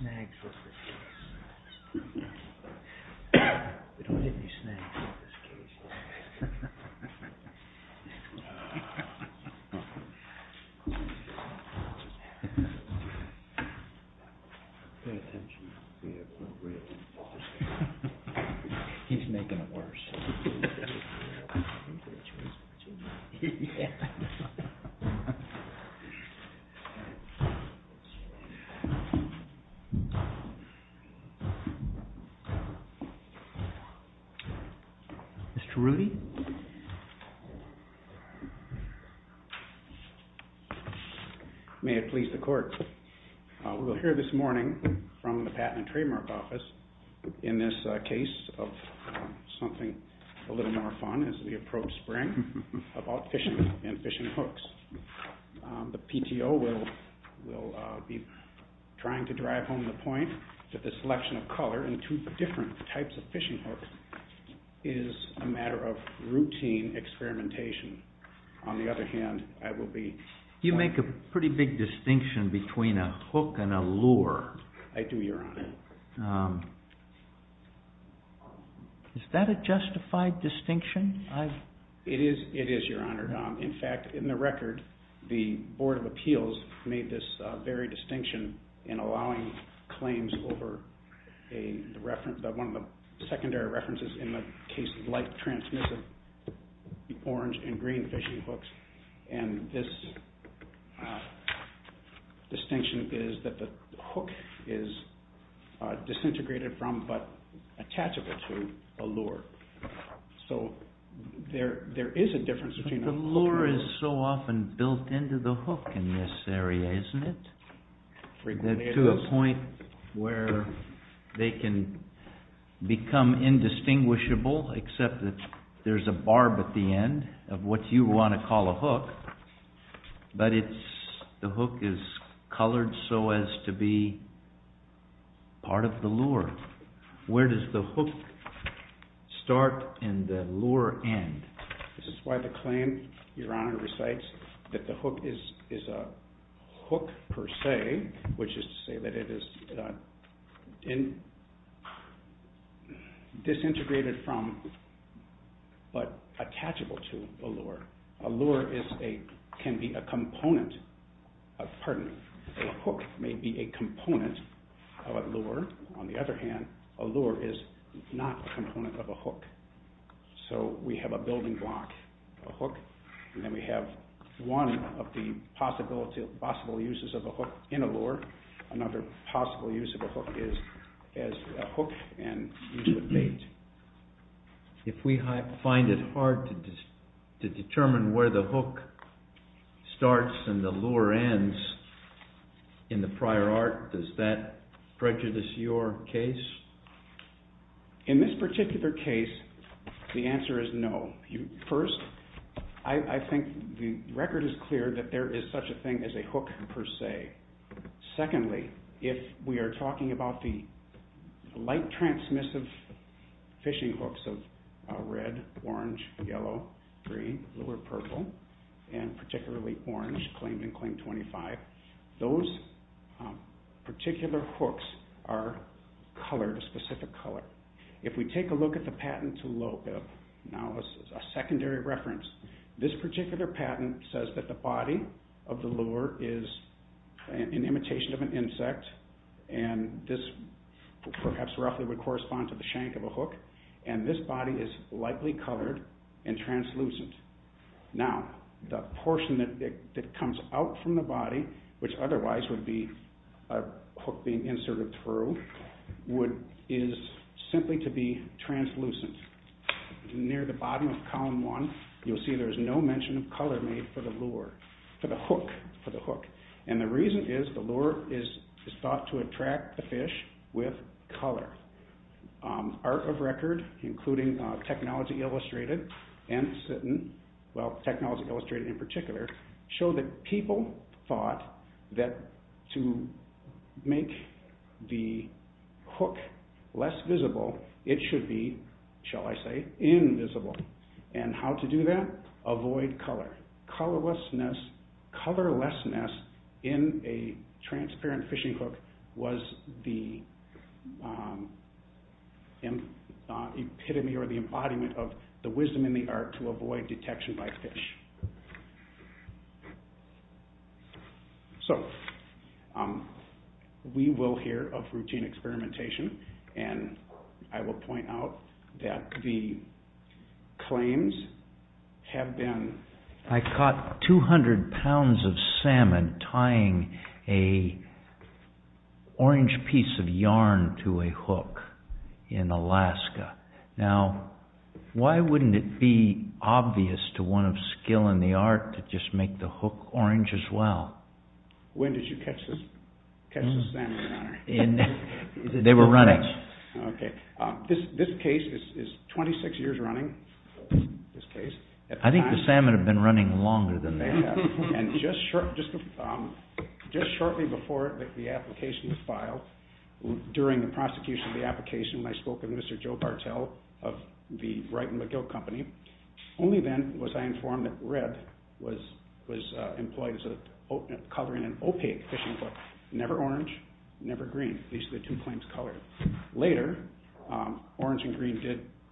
Snags He's making it worse. May it please the court, we will hear this morning from the Patent and Trademark Office in this case of something a little more fun as we approach spring, about fishing and fishing hooks. The PTO will be trying to drive home the point that the selection of color in two different types of fishing hooks is a matter of routine experimentation. On the other hand, I will be... You make a pretty big distinction between a hook and a lure. I do, Your Honor. Is that a justified distinction? It is, Your Honor. In fact, in the record, the Board of Appeals made this very distinction in allowing claims over one of the secondary references in the case of light transmissive orange and green fishing hooks. And this distinction is that the hook is disintegrated from but attachable to a lure. So there is a difference between... The lure is so often built into the hook in this area, isn't it? To a point where they can become indistinguishable except that there's a barb at the end of what you want to call a hook, but the hook is colored so as to be part of the lure. Where does the hook start and the lure end? This is why the claim, Your Honor, recites that the hook is a hook per se, which is to say that it is disintegrated from but attachable to a lure. A hook may be a component of a lure. On the other hand, a lure is not a component of a hook. So we have a building block, a hook, and then we have one of the possible uses of a hook in a lure. Another possible use of a hook is as a hook and used with bait. If we find it hard to determine where the hook starts and the lure ends in the prior art, does that prejudice your case? In this particular case, the answer is no. First, I think the record is clear that there is such a thing as a hook per se. Secondly, if we are talking about the light transmissive fishing hooks of red, orange, yellow, green, blue, or purple, and particularly orange, claimed in Claim 25, those particular hooks are colored a specific color. If we take a look at the patent to Lopeb, now this is a secondary reference. This particular patent says that the body of the lure is an imitation of an insect, and this perhaps roughly would correspond to the shank of a hook, and this body is lightly colored and translucent. Now, the portion that comes out from the body, which otherwise would be a hook being inserted through, is simply to be translucent. Near the bottom of column one, you'll see there's no mention of color made for the hook, and the reason is the lure is thought to attract the fish with color. Art of record, including Technology Illustrated and SITN, well, Technology Illustrated in particular, show that people thought that to make the hook less visible, it should be, shall I say, invisible. And how to do that? Avoid color. Colorlessness in a transparent fishing hook was the epitome or the embodiment of the wisdom in the art to avoid detection by fish. So, we will hear of routine experimentation, and I will point out that the claims have been... I caught 200 pounds of salmon tying a orange piece of yarn to a hook in Alaska. Now, why wouldn't it be obvious to one of skill in the art to just make the hook orange as well? When did you catch the salmon, Your Honor? They were running. Okay. This case is 26 years running, this case. I think the salmon have been running longer than that. And just shortly before the application was filed, during the prosecution of the application, when I spoke with Mr. Joe Bartel of the Wright and McGill Company, only then was I informed that red was employed as a color in an opaque fishing hook, never orange, never green, at least the two claims colored. Later, orange and green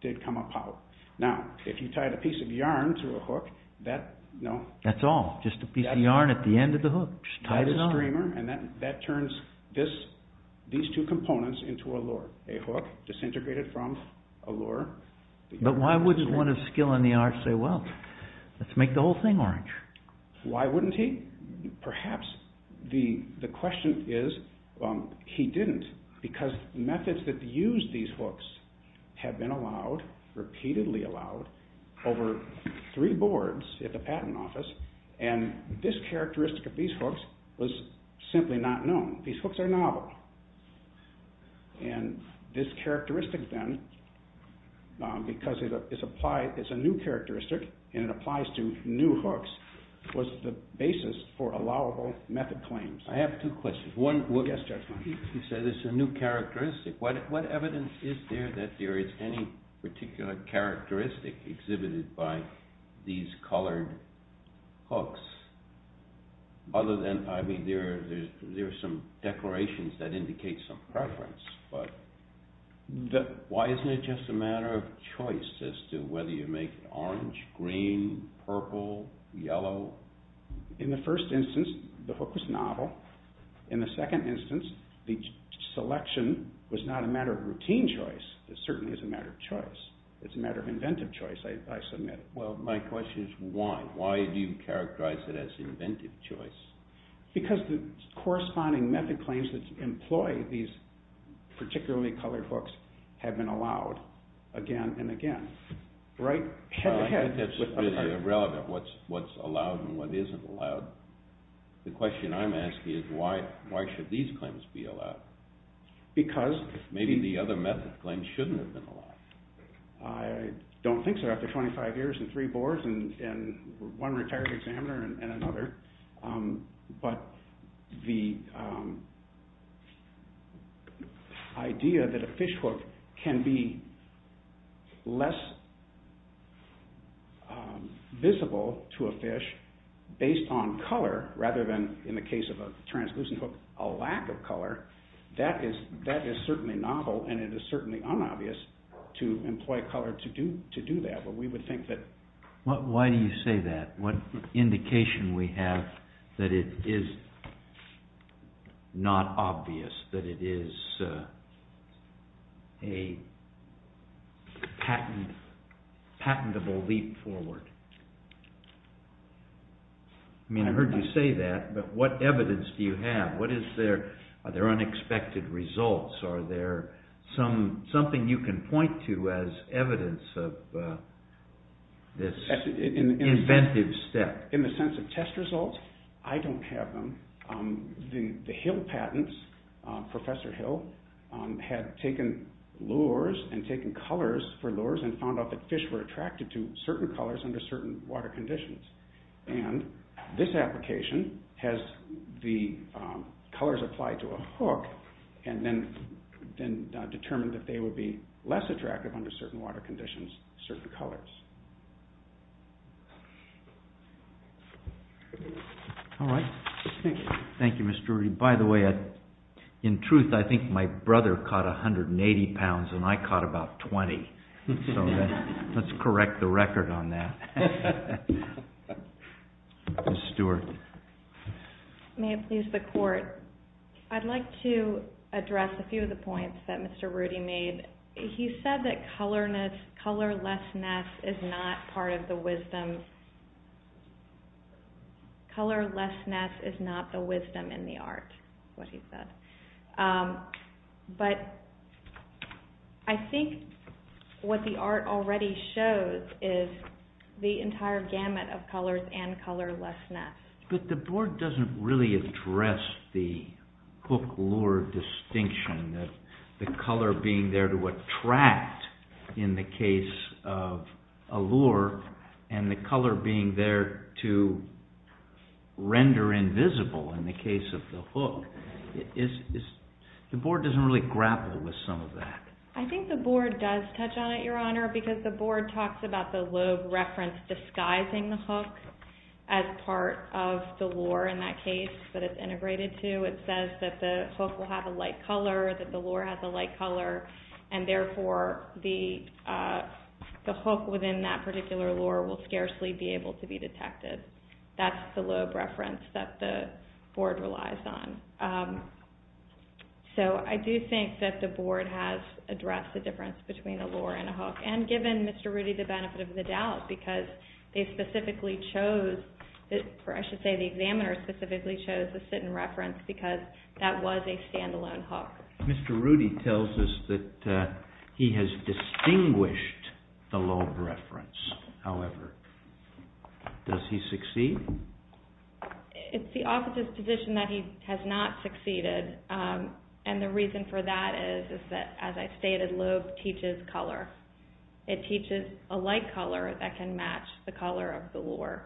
did come up out. Now, if you tied a piece of yarn to a hook, that... That's all, just a piece of yarn at the end of the hook, just tied it on. Tied a streamer, and that turns these two components into a lure, a hook disintegrated from a lure. But why wouldn't one of skill in the art say, well, let's make the whole thing orange? Why wouldn't he? Perhaps the question is, he didn't, because methods that used these hooks have been allowed, repeatedly allowed, over three boards at the patent office, and this characteristic of these hooks was simply not known. These hooks are novel. And this characteristic, then, because it's a new characteristic, and it applies to new hooks, was the basis for allowable method claims. I have two questions. One... Yes, Judge. You said it's a new characteristic. What evidence is there that there is any particular characteristic exhibited by these colored hooks? Other than, I mean, there are some declarations that indicate some preference, but why isn't it just a matter of choice as to whether you make it orange, green, purple, yellow? In the first instance, the hook was novel. In the second instance, the selection was not a matter of routine choice. It certainly is a matter of choice. It's a matter of inventive choice, I submit. Well, my question is, why? Why do you characterize it as inventive choice? Because the corresponding method claims that employ these particularly colored hooks have been allowed again and again. Right? That's irrelevant, what's allowed and what isn't allowed. The question I'm asking is, why should these claims be allowed? Because... Maybe the other method claims shouldn't have been allowed. I don't think so. After 25 years and three boards and one retired examiner and another. But the idea that a fish hook can be less visible to a fish based on color, rather than, in the case of a translucent hook, a lack of color, that is certainly novel and it is certainly unobvious to employ color to do that. But we would think that... Why do you say that? What indication we have that it is not obvious, that it is a patentable leap forward. I mean, I heard you say that, but what evidence do you have? Are there unexpected results? Are there something you can point to as evidence of this inventive step? In the sense of test results, I don't have them. The Hill patents, Professor Hill had taken lures and taken colors for lures and found out that fish were attracted to certain colors under certain water conditions. And this application has the colors applied to a hook and then determined that they would be less attractive under certain water conditions, certain colors. All right. Thank you. Thank you, Mr. Rudy. By the way, in truth, I think my brother caught 180 pounds and I caught about 20. So let's correct the record on that. Ms. Stewart. May it please the court. I'd like to address a few of the points that Mr. Rudy made. He said that colorlessness is not part of the wisdom. Colorlessness is not the wisdom in the art, is what he said. But I think what the art already shows is the entire gamut of colors and colorlessness. But the board doesn't really address the hook lure distinction, the color being there to attract in the case of a lure and the color being there to render invisible in the case of the hook. The board doesn't really grapple with some of that. I think the board does touch on it, Your Honor, because the board talks about the lube reference disguising the hook as part of the lure in that case that it's integrated to. It says that the hook will have a light color, that the lure has a light color, and therefore the hook within that particular lure will scarcely be able to be detected. That's the lube reference that the board relies on. So I do think that the board has addressed the difference between a lure and a hook, and given Mr. Rudy the benefit of the doubt because they specifically chose, or I should say the examiner specifically chose the sit-in reference because that was a stand-alone hook. Mr. Rudy tells us that he has distinguished the lube reference. However, does he succeed? It's the officer's position that he has not succeeded, and the reason for that is that, as I stated, lube teaches color. It teaches a light color that can match the color of the lure.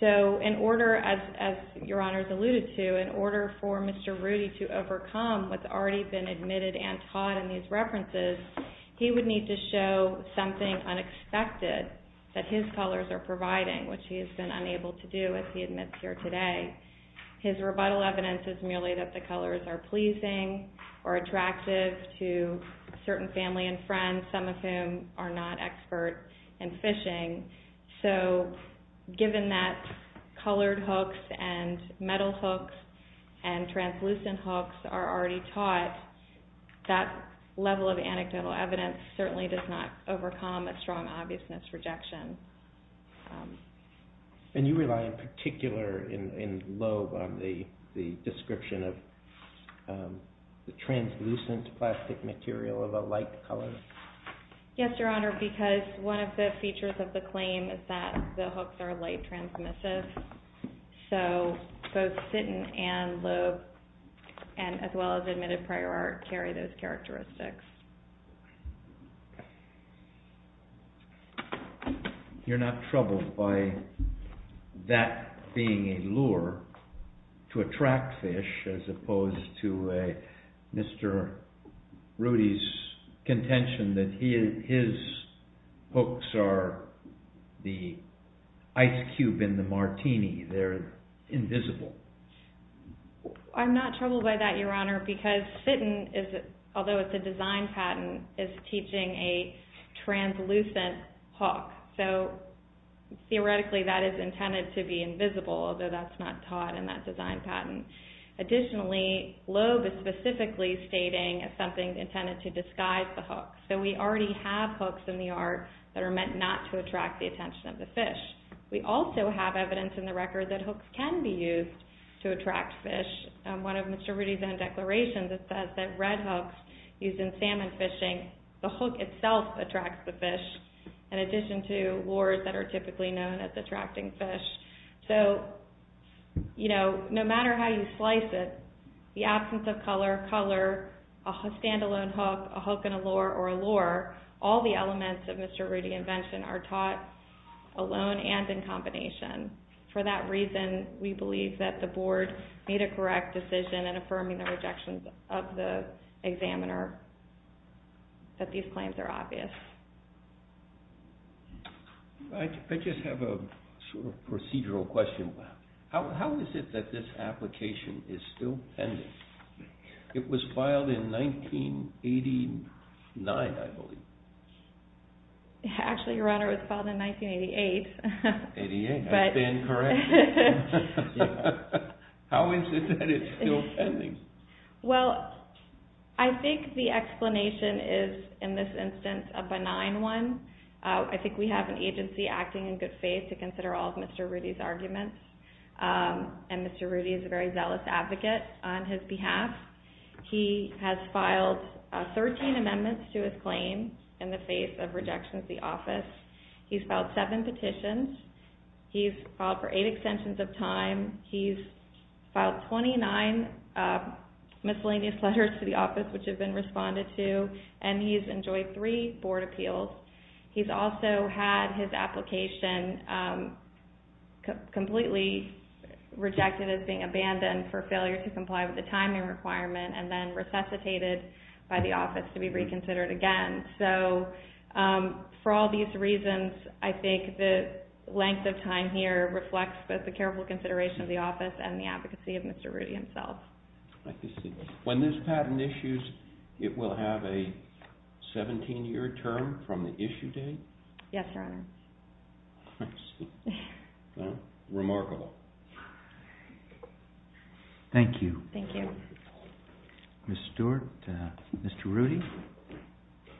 So in order, as Your Honor's alluded to, in order for Mr. Rudy to overcome what's already been admitted and taught in these references, he would need to show something unexpected that his colors are providing, which he has been unable to do, as he admits here today. His rebuttal evidence is merely that the colors are pleasing or attractive to certain family and friends, some of whom are not expert in fishing. So given that colored hooks and metal hooks and translucent hooks are already taught, that level of anecdotal evidence certainly does not overcome a strong obviousness rejection. And you rely in particular in lube on the description of the translucent plastic material of a light color? Yes, Your Honor, because one of the features of the claim is that the hooks are light transmissive. So both sit-in and lube, as well as admitted prior art, carry those characteristics. You're not troubled by that being a lure to attract fish, as opposed to Mr. Rudy's contention that his hooks are the ice cube in the martini. They're invisible. I'm not troubled by that, Your Honor, because sit-in, although it's a design patent, is teaching a translucent hook. So theoretically that is intended to be invisible, although that's not taught in that design patent. Additionally, lube is specifically stating as something intended to disguise the hook. So we already have hooks in the art that are meant not to attract the attention of the fish. We also have evidence in the record that hooks can be used to attract fish. One of Mr. Rudy's own declarations, it says that red hooks used in salmon fishing, the hook itself attracts the fish, in addition to lures that are typically known as attracting fish. So no matter how you slice it, the absence of color, color, a standalone hook, a hook and a lure, or a lure, all the elements of Mr. Rudy's invention are taught alone and in combination. For that reason, we believe that the Board made a correct decision in affirming the rejection of the examiner that these claims are obvious. I just have a sort of procedural question. How is it that this application is still pending? It was filed in 1989, I believe. Actually, Your Honor, it was filed in 1988. 1988, I stand corrected. How is it that it's still pending? Well, I think the explanation is, in this instance, a benign one. I think we have an agency acting in good faith to consider all of Mr. Rudy's arguments. And Mr. Rudy is a very zealous advocate on his behalf. He has filed 13 amendments to his claim in the face of rejection of the office. He's filed seven petitions. He's filed for eight extensions of time. He's filed 29 miscellaneous letters to the office, which have been responded to. And he's enjoyed three board appeals. He's also had his application completely rejected as being abandoned for failure to comply with the timing requirement and then resuscitated by the office to be reconsidered again. So, for all these reasons, I think the length of time here reflects both the careful consideration of the office and the advocacy of Mr. Rudy himself. I see. When this patent issues, it will have a 17-year term from the issue date? Yes, Your Honor. I see. Well, remarkable. Thank you. Thank you. Ms. Stewart, Mr. Rudy,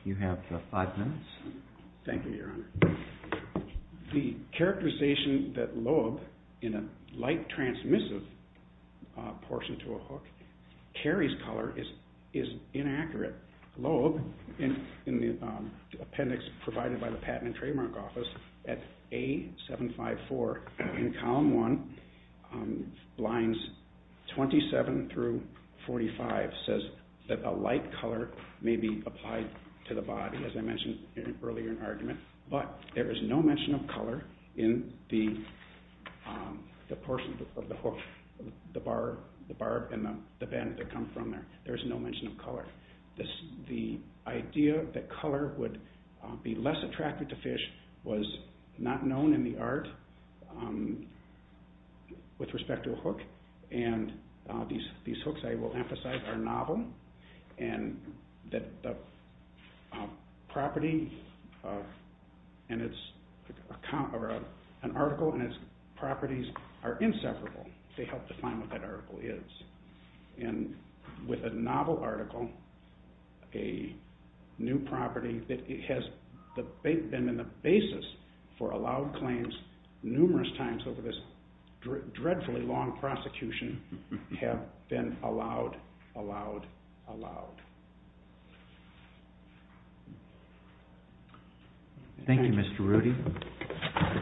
you have five minutes. Thank you, Your Honor. The characterization that lobe in a light transmissive portion to a hook carries color is inaccurate. Lobe in the appendix provided by the Patent and Trademark Office at A754 in column one, lines 27 through 45, says that a light color may be applied to the body, as I mentioned earlier in argument, but there is no mention of color in the portion of the hook, the barb and the band that come from there. There is no mention of color. The idea that color would be less attractive to fish was not known in the art with respect to a hook, and these hooks, I will emphasize, are novel and that the property of an article and its properties are inseparable. They help define what that article is. And with a novel article, a new property that has been the basis for allowed claims numerous times over this dreadfully long prosecution have been allowed, allowed, allowed. Thank you, Mr. Rudy.